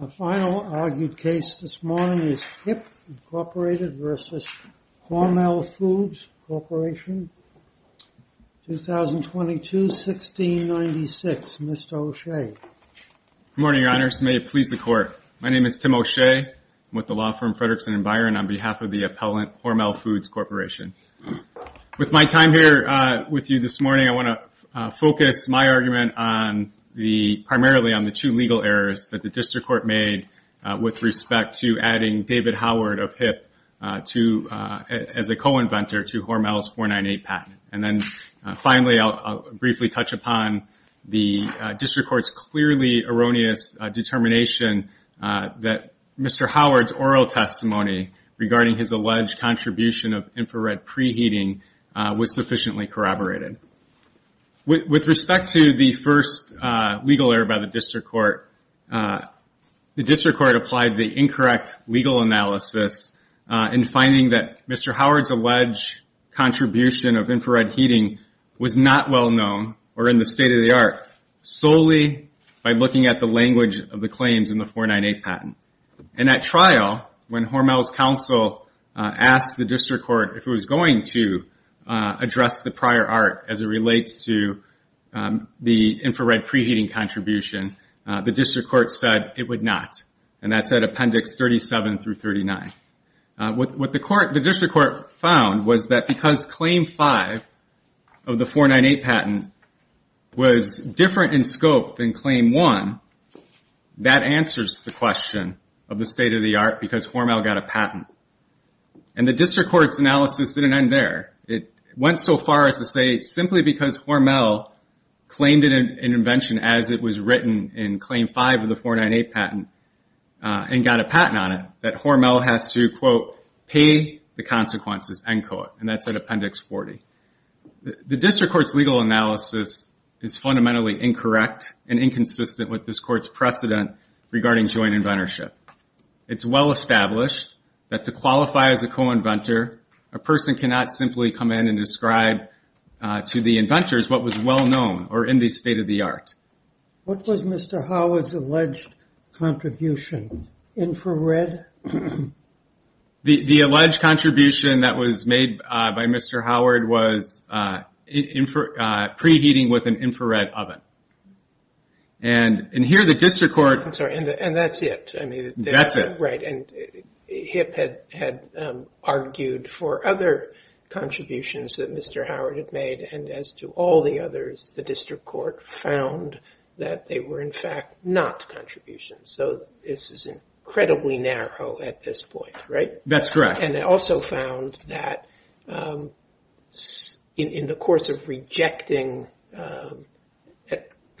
A final argued case this morning is HIP, Inc. v. Hormel Foods Corporation, 2022-1696. Mr. O'Shea. Good morning, Your Honors. May it please the Court. My name is Tim O'Shea. I'm with the law firm Fredrickson & Byron on behalf of the appellant Hormel Foods Corporation. With my time here with you this morning, I want to focus my argument primarily on the two legal errors that the District Court made with respect to adding David Howard of HIP as a co-inventor to Hormel's 498 patent. Finally, I'll briefly touch upon the District Court's clearly erroneous determination that Mr. Howard's oral testimony regarding his alleged contribution of infrared preheating was sufficiently corroborated. With respect to the first legal error by the District Court, the District Court applied the incorrect legal analysis in finding that Mr. Howard's alleged contribution of infrared heating was not well known or in the state-of-the-art solely by looking at the language of the claims in the 498 patent. In that trial, when Hormel's counsel asked the District Court if it was going to address the prior art as it relates to the infrared preheating contribution, the District Court said it would not, and that's at Appendix 37-39. What the District Court found was that because Claim 5 of the 498 patent was different in scope than Claim 1, that answers the question of the state-of-the-art because Hormel got a patent. The District Court's analysis didn't end there. It went so far as to say simply because Hormel claimed an invention as it was written in Claim 5 of the 498 patent and got a patent on it, that Hormel has to, quote, to qualify as a co-inventor, a person cannot simply come in and describe to the inventors what was well known or in the state-of-the-art. What was Mr. Howard's alleged contribution? Infrared? The alleged contribution that was made by Mr. Howard was preheating with an infrared oven. And here the District Court... I'm sorry, and that's it. That's it. Right, and HIP had argued for other contributions that Mr. Howard had made, and as to all the others, the District Court found that they were in fact not contributions. So this is incredibly narrow at this point, right? That's correct. And they also found that in the course of rejecting,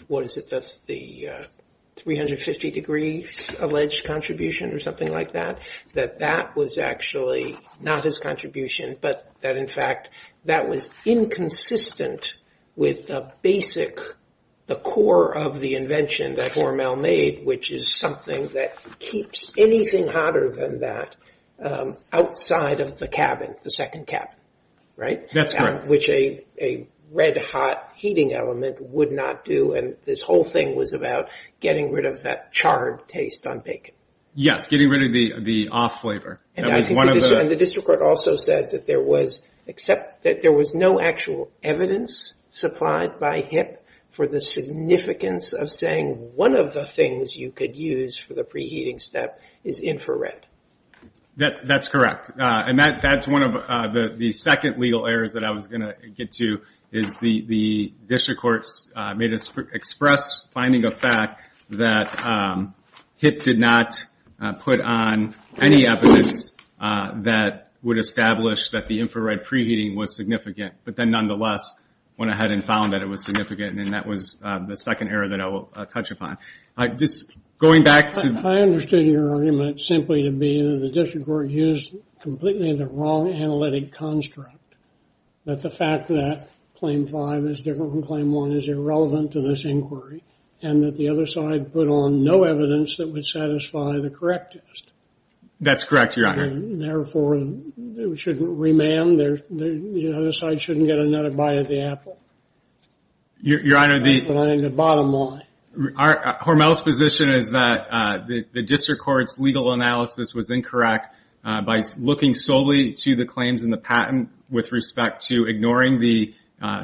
what is it, the 350-degree alleged contribution or something like that, that that was actually not his contribution, but that in fact that was inconsistent with the basic, the core of the invention that Hormel made, which is something that keeps anything hotter than that outside of the cabin, the second cabin, right? That's correct. Which a red-hot heating element would not do, and this whole thing was about getting rid of that charred taste on bacon. Yes, getting rid of the off flavor. And the District Court also said that there was no actual evidence supplied by HIP for the significance of saying one of the things you could use for the preheating step is infrared. That's correct. And that's one of the second legal errors that I was going to get to, is the District Courts expressed finding a fact that HIP did not put on any evidence that would establish that the infrared preheating was significant, but then nonetheless went ahead and found that it was significant, and that was the second error that I will touch upon. Going back to... I understood your argument simply to be that the District Court used completely the wrong analytic construct. That the fact that claim five is different from claim one is irrelevant to this inquiry, and that the other side put on no evidence that would satisfy the correct test. That's correct, Your Honor. Therefore, it shouldn't remand, the other side shouldn't get another bite of the apple. Your Honor, the... Hormel's position is that the District Court's legal analysis was incorrect by looking solely to the claims in the patent with respect to ignoring the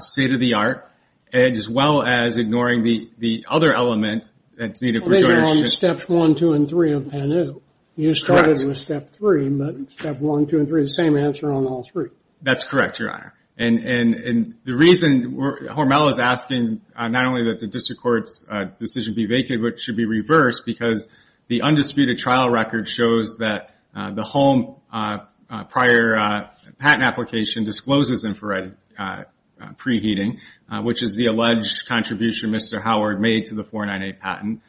state-of-the-art, as well as ignoring the other element that's needed... Well, these are on steps one, two, and three of PANU. You started with step three, but step one, two, and three, the same answer on all three. That's correct, Your Honor. The reason Hormel is asking not only that the District Court's decision be vacant, but it should be reversed, because the undisputed trial record shows that the Holm prior patent application discloses infrared preheating, which is the alleged contribution Mr. Howard made to the 498 patent.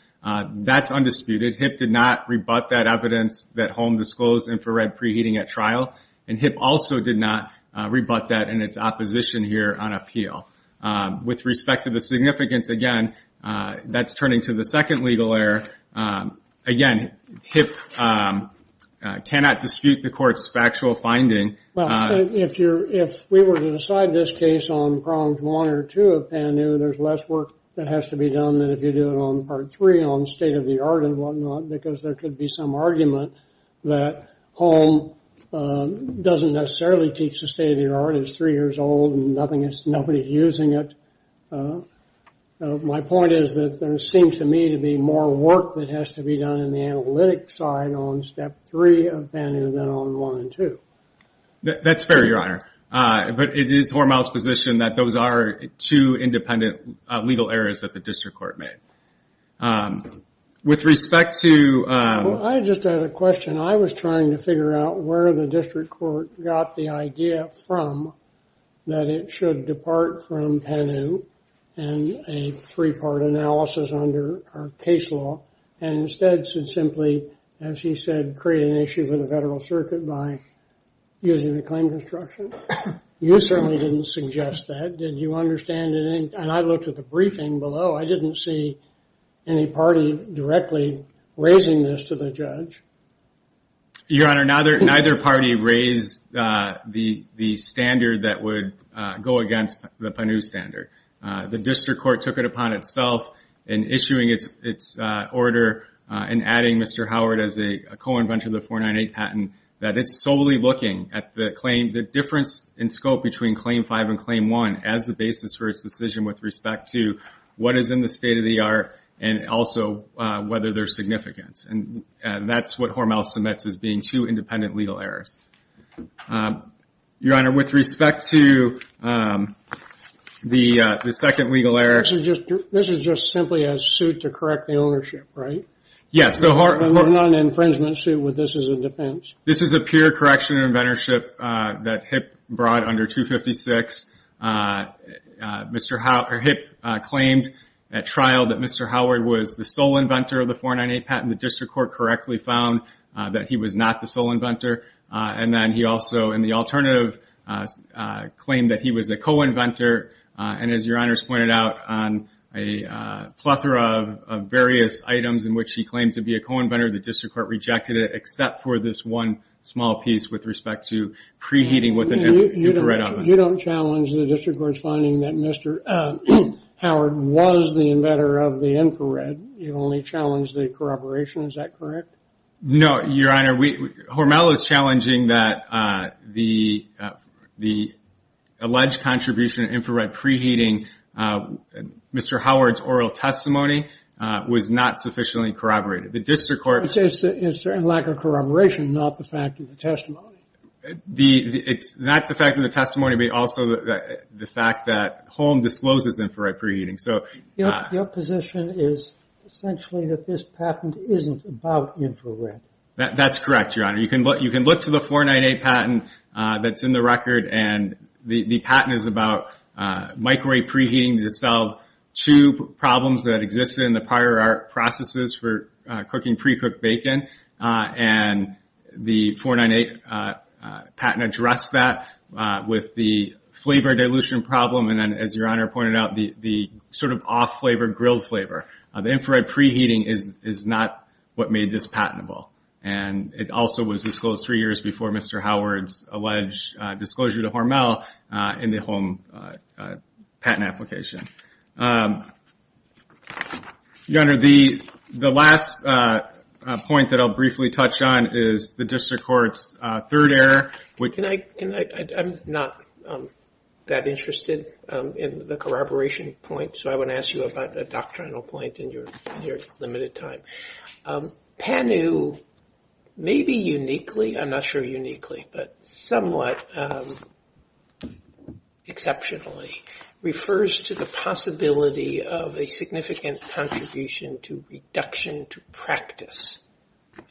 That's undisputed. HIP did not rebut that evidence that Holm disclosed infrared preheating at trial, and HIP also did not rebut that in its opposition here on appeal. With respect to the significance, again, that's turning to the second legal error. Again, HIP cannot dispute the Court's factual finding. Well, if we were to decide this case on problems one or two of PANU, there's less work that has to be done than if you do it on part three on state-of-the-art and whatnot, because there could be some argument that Holm doesn't necessarily teach the state-of-the-art. It's three years old, and nobody's using it. My point is that there seems to me to be more work that has to be done in the analytic side on step three of PANU than on one and two. That's fair, Your Honor. But it is Hormel's position that those are two independent legal errors that the District Court made. With respect to... I just had a question. I was trying to figure out where the District Court got the idea from that it should depart from PANU and a three-part analysis under our case law, and instead should simply, as he said, create an issue for the Federal Circuit by using the claim construction. You certainly didn't suggest that. Did you understand anything? And I looked at the briefing below. I didn't see any party directly raising this to the judge. Your Honor, neither party raised the standard that would go against the PANU standard. The District Court took it upon itself in issuing its order and adding Mr. Howard as a co-inventor of the 498 patent that it's solely looking at the claim, the difference in scope between Claim 5 and Claim 1 as the basis for its decision with respect to what is in the state-of-the-art and also whether there's significance. And that's what Hormel submits as being two independent legal errors. Your Honor, with respect to the second legal error... This is just simply a suit to correct the ownership, right? Yes, so Hormel... But not an infringement suit with this as a defense? This is a pure correction of inventorship that HIPP brought under 256. HIPP claimed at trial that Mr. Howard was the sole inventor of the 498 patent. The District Court correctly found that he was not the sole inventor. And then he also, in the alternative, claimed that he was a co-inventor. And as Your Honor's pointed out, on a plethora of various items in which he claimed to be a co-inventor, the District Court rejected it except for this one small piece with respect to preheating with an infrared oven. You don't challenge the District Court's finding that Mr. Howard was the inventor of the infrared? You only challenge the corroboration, is that correct? No, Your Honor. Hormel is challenging that the alleged contribution of infrared preheating, Mr. Howard's oral testimony, was not sufficiently corroborated. It's a lack of corroboration, not the fact of the testimony? It's not the fact of the testimony, but also the fact that Horm discloses infrared preheating. Your position is essentially that this patent isn't about infrared? That's correct, Your Honor. You can look to the 498 patent that's in the record, and the patent is about microwave preheating to solve two problems that existed in the prior art processes for cooking precooked bacon. And the 498 patent addressed that with the flavor dilution problem, and then, as Your Honor pointed out, the sort of off-flavor grilled flavor. The infrared preheating is not what made this patentable. And it also was disclosed three years before Mr. Howard's alleged disclosure to Hormel in the home patent application. Your Honor, the last point that I'll briefly touch on is the District Court's third error. I'm not that interested in the corroboration point, so I want to ask you about a doctrinal point in your limited time. Pannu, maybe uniquely, I'm not sure uniquely, but somewhat exceptionally, refers to the possibility of a significant contribution to reduction to practice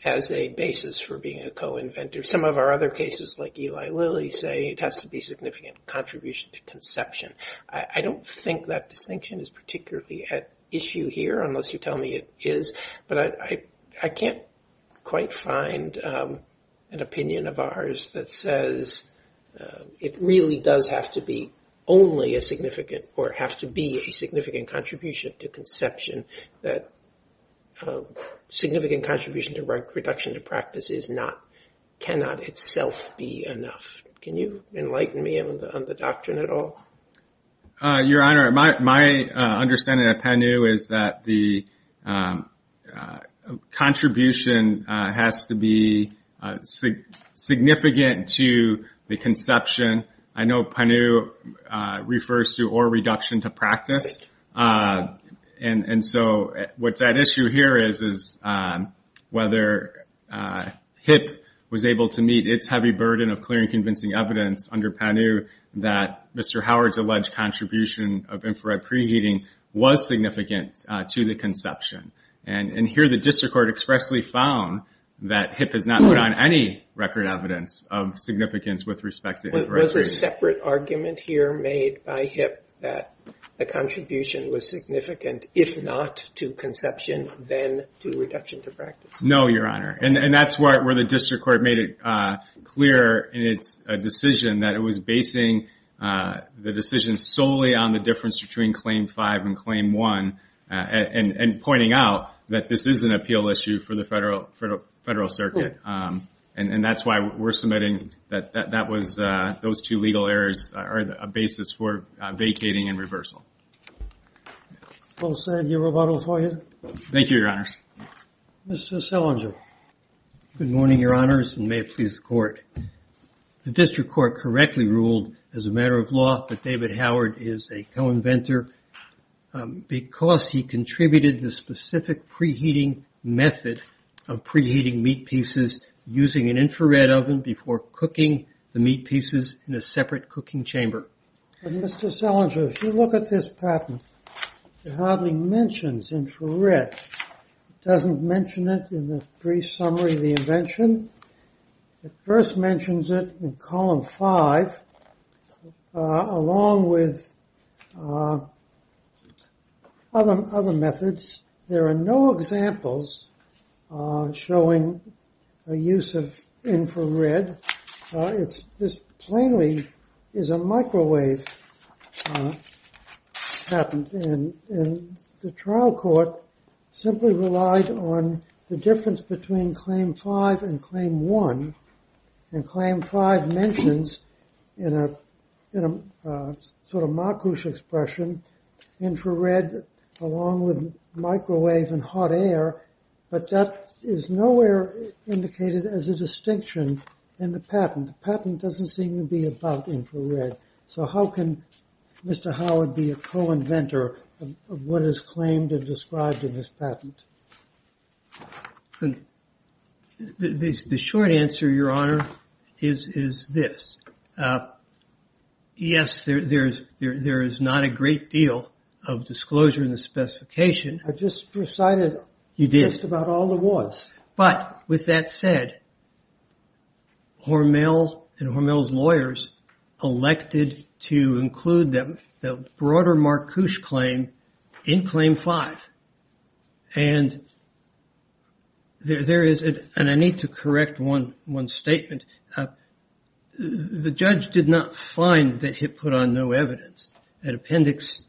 as a basis for being a co-inventor. Some of our other cases, like Eli Lilly, say it has to be significant contribution to conception. I don't think that distinction is particularly at issue here, unless you tell me it is, but I can't quite find an opinion of ours that says it really does have to be only a significant, or have to be a significant contribution to conception, that significant contribution to reduction to practice cannot itself be enough. Can you enlighten me on the doctrine at all? Your Honor, my understanding of Pannu is that the contribution has to be significant to the conception. I know Pannu refers to or reduction to practice. And so what that issue here is, is whether HIP was able to meet its heavy burden of clear and convincing evidence under Pannu that Mr. Howard's alleged contribution of infrared preheating was significant to the conception. And here the district court expressly found that HIP has not put on any record evidence of significance with respect to infrared preheating. So there is a separate argument here made by HIP that the contribution was significant, if not to conception, then to reduction to practice? No, Your Honor. And that's where the district court made it clear in its decision that it was basing the decision solely on the difference between Claim 5 and Claim 1, and pointing out that this is an appeal issue for the federal circuit. And that's why we're submitting that that was, those two legal errors are a basis for vacating and reversal. We'll send you a rebuttal for you. Thank you, Your Honors. Mr. Selinger. Good morning, Your Honors, and may it please the court. The district court correctly ruled as a matter of law that David Howard is a co-inventor because he contributed the specific preheating method of preheating meat pieces using an infrared oven before cooking the meat pieces in a separate cooking chamber. Mr. Selinger, if you look at this patent, it hardly mentions infrared. It doesn't mention it in the brief summary of the invention. It first mentions it in Column 5, along with other methods. There are no examples showing a use of infrared. This plainly is a microwave patent, and the trial court simply relied on the difference between Claim 5 and Claim 1, and Claim 5 mentions, in a sort of mockish expression, infrared along with microwave and hot air, but that is nowhere indicated as a distinction in the patent. The patent doesn't seem to be about infrared. So how can Mr. Howard be a co-inventor of what is claimed and described in this patent? The short answer, Your Honor, is this. Yes, there is not a great deal of disclosure in the specification. I just recited just about all there was. You did, but with that said, Hormel and Hormel's lawyers elected to include the broader Marcouche claim in Claim 5, and I need to correct one statement. The judge did not find that it put on no evidence. At Appendix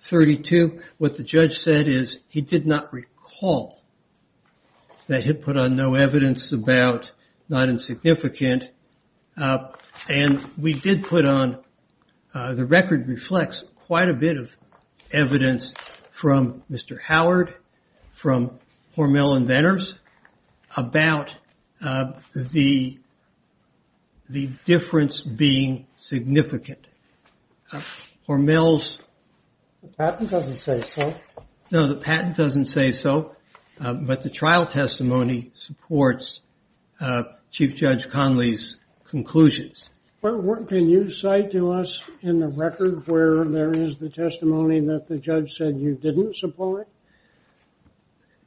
32, what the judge said is he did not recall that it put on no evidence about not insignificant, and we did put on, the record reflects quite a bit of evidence from Mr. Howard, from Hormel Inventors, about the difference being significant. Hormel's... The patent doesn't say so. No, the patent doesn't say so, but the trial testimony supports Chief Judge Conley's conclusions. Can you cite to us in the record where there is the testimony that the judge said you didn't support?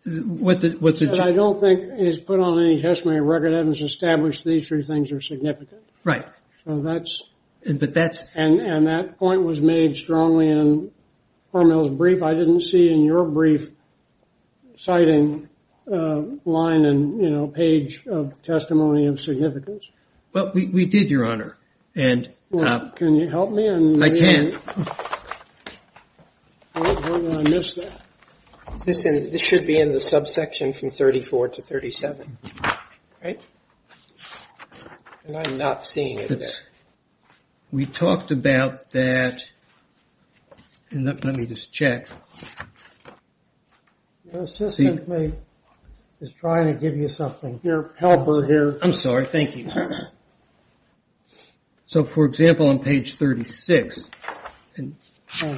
What the judge... I don't think he's put on any testimony of record that has established these three things are significant. Right. So that's... But that's... And that point was made strongly in Hormel's brief. I didn't see in your brief citing line and, you know, page of testimony of significance. Well, we did, Your Honor, and... Well, can you help me? I can. Hold on, I missed that. This should be in the subsection from 34 to 37, right? And I'm not seeing it there. We talked about that. Let me just check. Your assistant is trying to give you something. Your helper here. I'm sorry. Thank you. So, for example, on page 36...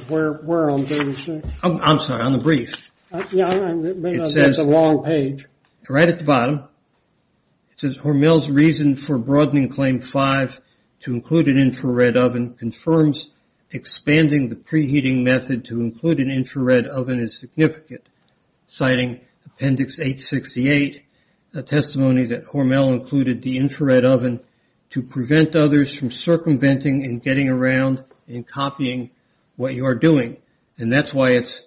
Where on 36? I'm sorry, on the brief. It says... It's a long page. Right at the bottom. It says, Hormel's reason for broadening Claim 5 to include an infrared oven confirms expanding the preheating method to include an infrared oven is significant. Citing Appendix 868, a testimony that Hormel included the infrared oven to prevent others from circumventing and getting around and copying what you are doing. And that's why it's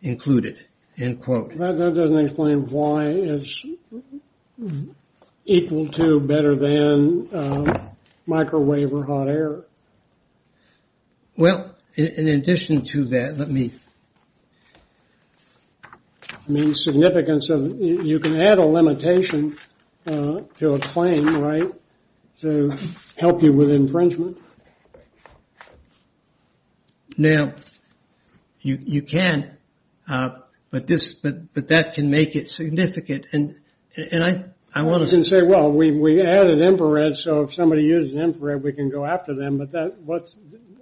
included, end quote. That doesn't explain why it's equal to, better than, microwave or hot air. Well, in addition to that, let me... I mean, significance of... You can add a limitation to a claim, right? To help you with infringement. Now, you can. But that can make it significant. And I want to... You can say, well, we added infrared, so if somebody uses infrared, we can go after them. But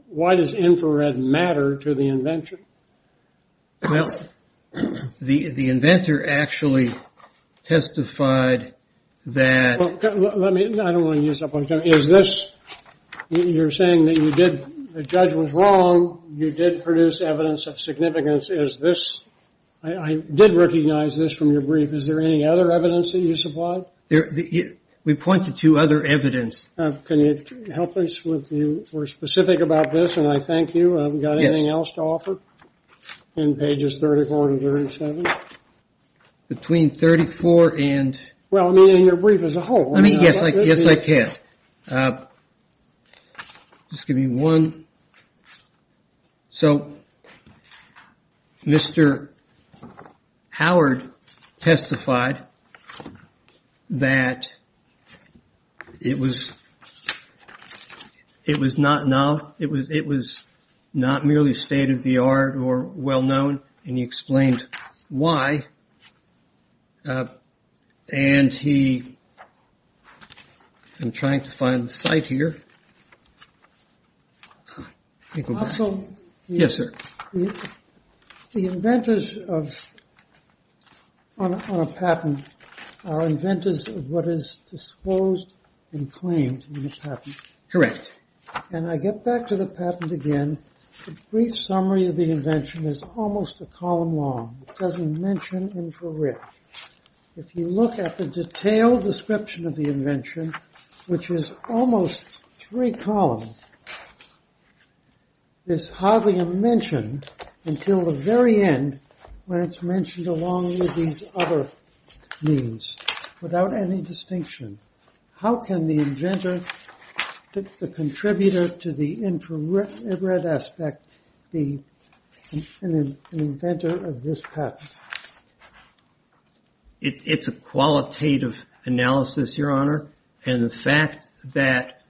why does infrared matter to the invention? Well, the inventor actually testified that... I don't want to use up all your time. Is this... You're saying that you did... The judge was wrong. You did produce evidence of significance. Is this... I did recognize this from your brief. Is there any other evidence that you supplied? We pointed to other evidence. Can you help us with... You were specific about this, and I thank you. Have we got anything else to offer in pages 34 to 37? Between 34 and... Well, I mean, in your brief as a whole. Yes, I can. Just give me one. So, Mr. Howard testified that it was not merely state-of-the-art or well-known. And he explained why. And he... I'm trying to find the site here. Yes, sir. The inventors on a patent are inventors of what is disclosed and claimed in a patent. Correct. And I get back to the patent again. The brief summary of the invention is almost a column long. It doesn't mention infrared. If you look at the detailed description of the invention, which is almost three columns, it's hardly a mention until the very end when it's mentioned along with these other means, without any distinction. How can the inventor, the contributor to the infrared aspect, be an inventor of this patent? It's a qualitative analysis, Your Honor. And the fact that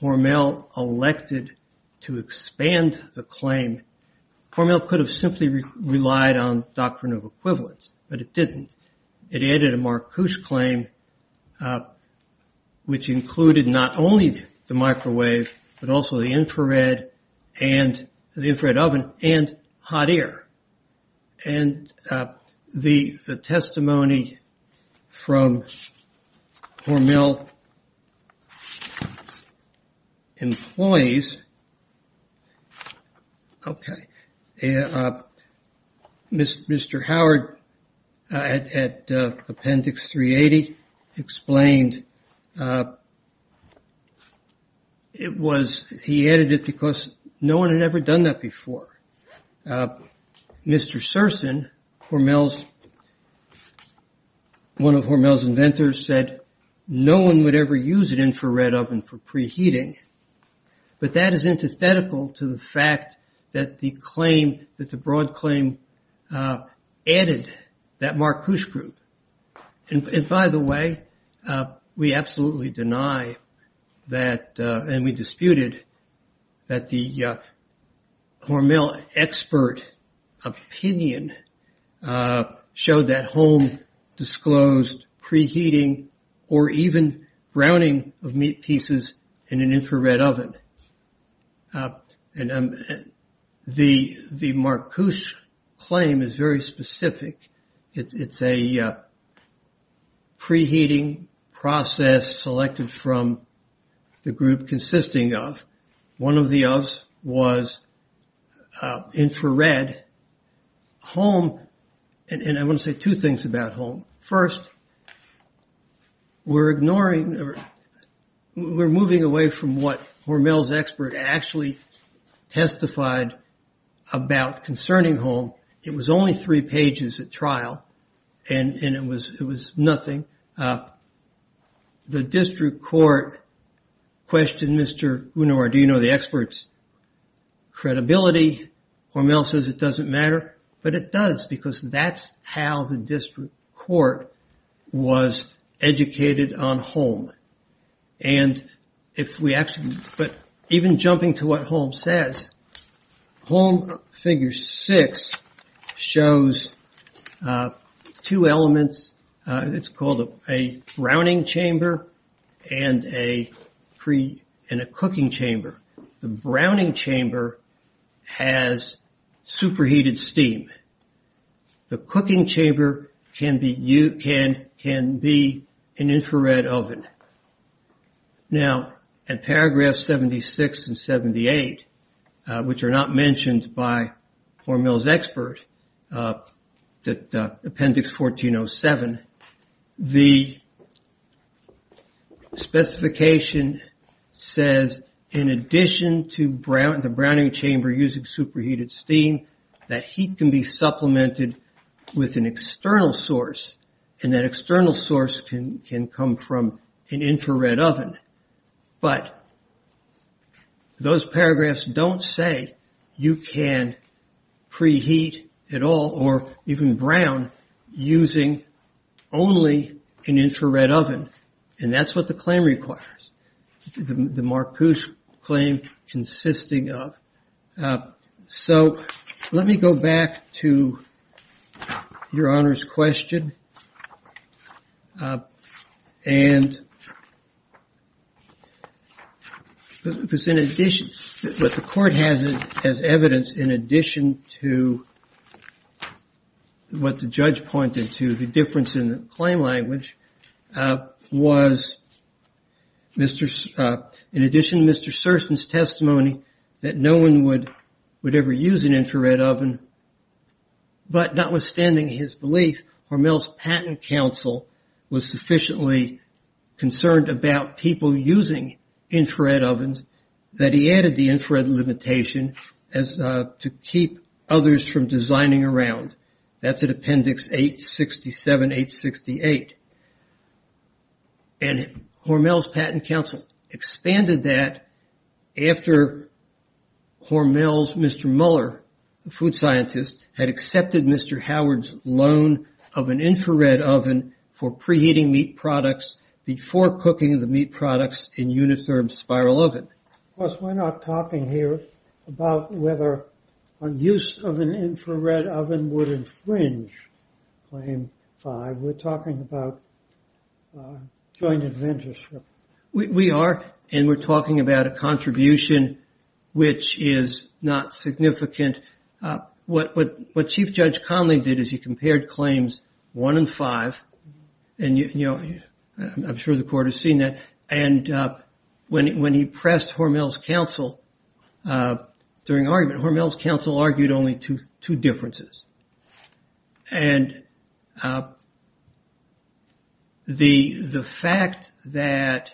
Hormel elected to expand the claim... Hormel could have simply relied on doctrine of equivalence, but it didn't. It added a Marcuse claim, which included not only the microwave, but also the infrared oven and hot air. And the testimony from Hormel employees... Okay. Mr. Howard at Appendix 380 explained it was... He added it because no one had ever done that before. Mr. Serson, one of Hormel's inventors, said no one would ever use an infrared oven for preheating. But that is antithetical to the fact that the broad claim added that Marcuse group. And by the way, we absolutely deny that and we disputed that the Hormel expert opinion showed that The Marcuse claim is very specific. It's a preheating process selected from the group consisting of... One of the offs was infrared. Home... And I want to say two things about home. First, we're ignoring... We're moving away from what Hormel's expert actually testified about concerning home. It was only three pages at trial and it was nothing. The district court questioned Mr. Unardino, the expert's credibility. Hormel says it doesn't matter, but it does because that's how the district court was educated on home. And if we actually... But even jumping to what home says, Home Figure 6 shows two elements. It's called a browning chamber and a cooking chamber. The browning chamber has superheated steam. The cooking chamber can be an infrared oven. Now, at paragraph 76 and 78, which are not mentioned by Hormel's expert, appendix 1407, the specification says in addition to the browning chamber using superheated steam, that heat can be supplemented with an external source. And that external source can come from an infrared oven. But those paragraphs don't say you can preheat at all or even brown using only an infrared oven. And that's what the claim requires. The Marcuse claim consisting of. So let me go back to Your Honor's question. And. In addition to what the court has as evidence, in addition to what the judge pointed to, the difference in the claim language was Mr. In addition, Mr. Serson's testimony that no one would would ever use an infrared oven. But notwithstanding his belief, Hormel's patent counsel was sufficiently concerned about people using infrared ovens, that he added the infrared limitation as to keep others from designing around. That's an appendix 867, 868. And Hormel's patent counsel expanded that after Hormel's Mr. Muller, the food scientist, had accepted Mr. Howard's loan of an infrared oven for preheating meat products before cooking the meat products in unitherm spiral oven. Plus, we're not talking here about whether a use of an infrared oven would infringe claim five. We're talking about joint adventures. We are. And we're talking about a contribution which is not significant. What what what Chief Judge Conley did is he compared claims one and five. And, you know, I'm sure the court has seen that. And when when he pressed Hormel's counsel during argument, Hormel's counsel argued only to two differences. And the the fact that.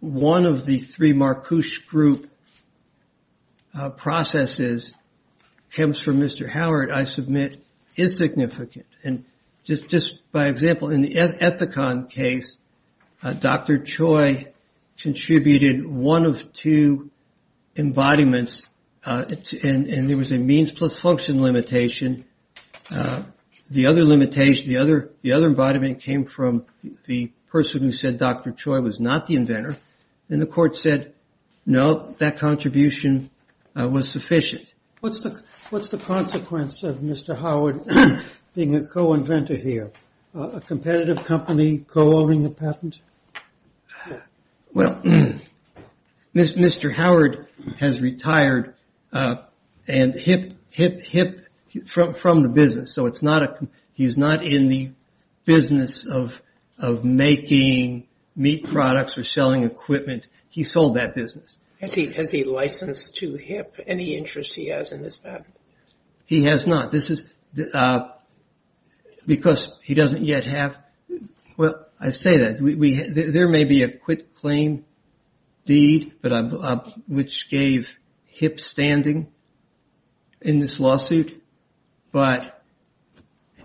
One of the three Marcuse group processes comes from Mr. Howard, I submit is significant. And just just by example, in the Ethicon case, Dr. Choi contributed one of two embodiments. And there was a means plus function limitation. The other limitation, the other the other embodiment came from the person who said Dr. Choi was not the inventor. And the court said, no, that contribution was sufficient. What's the what's the consequence of Mr. Howard being a co-inventor here? A competitive company co-owning the patent? Well, Mr. Howard has retired and hip hip hip from the business. So it's not a he's not in the business of of making meat products or selling equipment. He sold that business. Has he has he licensed to hip any interest he has in this? He has not. This is because he doesn't yet have. Well, I say that we there may be a quick claim deed, but which gave hip standing. In this lawsuit. But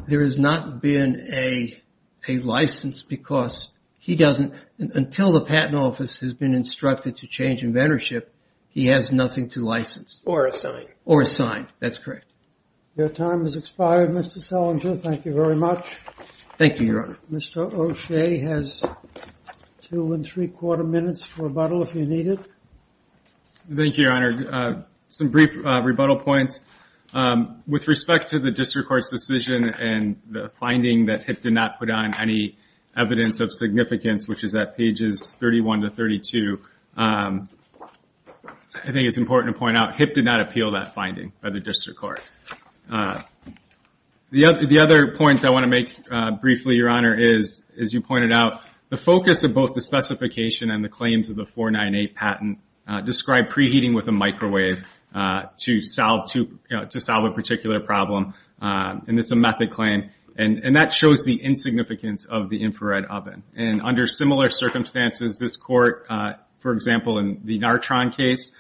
there has not been a a license because he doesn't. Until the patent office has been instructed to change inventorship, he has nothing to license or sign or sign. That's correct. Your time has expired, Mr. Selinger. Thank you very much. Thank you, Your Honor. Mr. O'Shea has two and three quarter minutes for a bottle if you need it. Thank you, Your Honor. Some brief rebuttal points with respect to the district court's decision and the finding that it did not put on any evidence of significance, which is that pages thirty one to thirty two. I think it's important to point out hip did not appeal that finding by the district court. The other the other points I want to make briefly, Your Honor, is, as you pointed out, the focus of both the specification and the claims of the 498 patent described preheating with a microwave to solve to to solve a particular problem. And it's a method claim. And that shows the insignificance of the infrared oven. And under similar circumstances, this court, for example, in the Nartron case,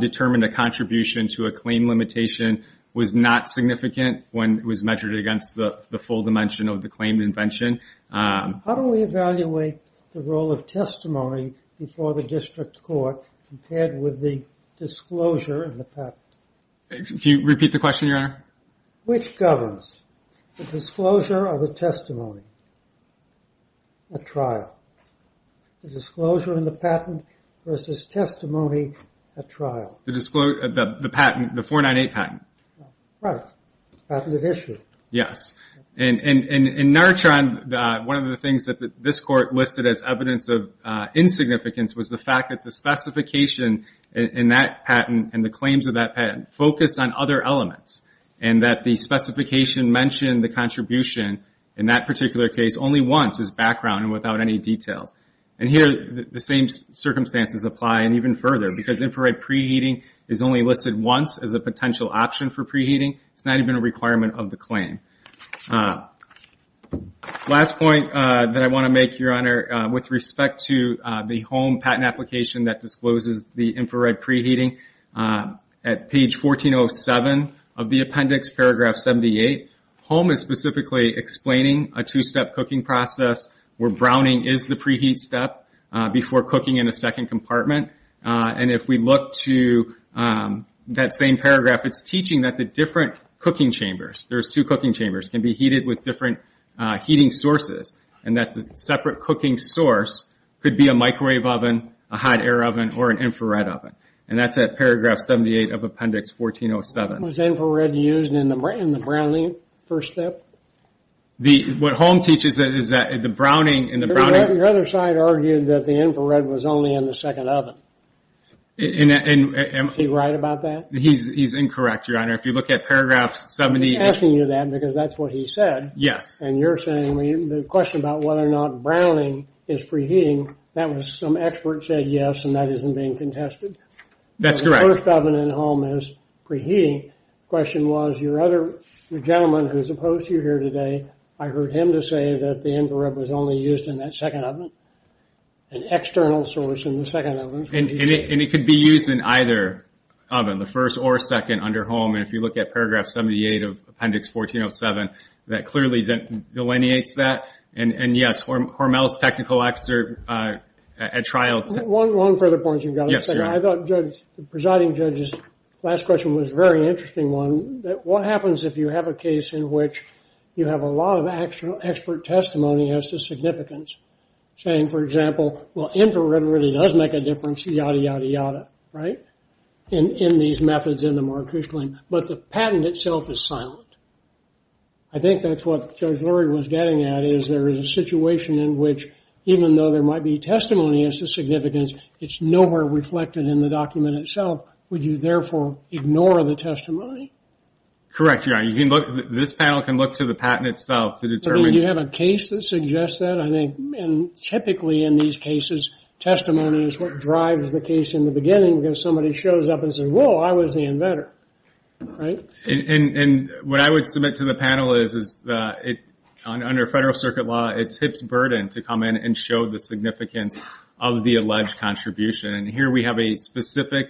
determined a contribution to a claim. Limitation was not significant when it was measured against the full dimension of the claim invention. How do we evaluate the role of testimony before the district court? Compared with the disclosure of the patent? Can you repeat the question, Your Honor? Which governs the disclosure of the testimony? A trial. The disclosure in the patent versus testimony at trial. The disclosure of the patent, the 498 patent. Right. Patented issue. Yes. And in Nartron, one of the things that this court listed as evidence of insignificance was the fact that the specification in that patent and the claims of that patent focused on other elements and that the specification mentioned the contribution in that particular case only once as background and without any details. And here, the same circumstances apply. And even further, because infrared preheating is only listed once as a potential option for preheating. It's not even a requirement of the claim. Last point that I want to make, Your Honor, with respect to the HOME patent application that discloses the infrared preheating, at page 1407 of the appendix, paragraph 78, HOME is specifically explaining a two-step cooking process where browning is the preheat step before cooking in a second compartment. And if we look to that same paragraph, it's teaching that the different cooking chambers, there's two cooking chambers, can be heated with different heating sources, and that the separate cooking source could be a microwave oven, a hot air oven, or an infrared oven. And that's at paragraph 78 of appendix 1407. Was infrared used in the browning first step? What HOME teaches is that the browning... Your other side argued that the infrared was only in the second oven. Is he right about that? He's incorrect, Your Honor. If you look at paragraph 78... I'm asking you that because that's what he said. Yes. And you're saying the question about whether or not browning is preheating, that was some expert said yes, and that isn't being contested. That's correct. The first oven in HOME is preheating. The question was, your other gentleman who's opposed to you here today, I heard him to say that the infrared was only used in that second oven, an external source in the second oven. And it could be used in either oven, the first or second under HOME. And if you look at paragraph 78 of appendix 1407, that clearly delineates that. And yes, Hormel's technical excerpt at trial... One further point, Your Honor. Yes, Your Honor. I thought the presiding judge's last question was a very interesting one. What happens if you have a case in which you have a lot of expert testimony as to significance, saying, for example, well, infrared really does make a difference, yada, yada, yada, right? In these methods, in the Marcush line. But the patent itself is silent. I think that's what Judge Lurie was getting at, is there is a situation in which, even though there might be testimony as to significance, it's nowhere reflected in the document itself. Would you therefore ignore the testimony? Correct, Your Honor. This panel can look to the patent itself to determine... You have a case that suggests that, I think. And typically in these cases, testimony is what drives the case in the beginning because somebody shows up and says, well, I was the inventor, right? And what I would submit to the panel is that under federal circuit law, it's HIP's burden to come in and show the significance of the alleged contribution. And here we have a specific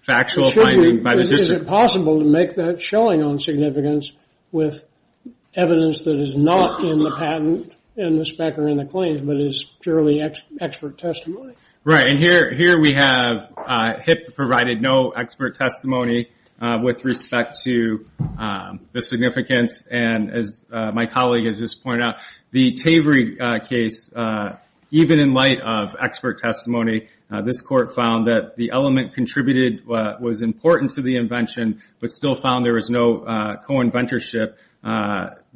factual finding by the district. Is it possible to make that showing on significance with evidence that is not in the patent, in the spec, or in the claims, but is purely expert testimony? Right. And here we have HIP provided no expert testimony with respect to the significance. And as my colleague has just pointed out, the Tavery case, even in light of expert testimony, this court found that the element contributed was important to the invention, but still found there was no co-inventorship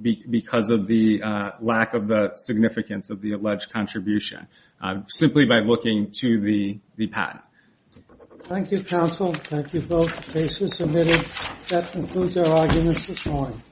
because of the lack of the significance of the alleged contribution, simply by looking to the patent. Thank you, counsel. Thank you both. The case is submitted. That concludes our arguments this morning.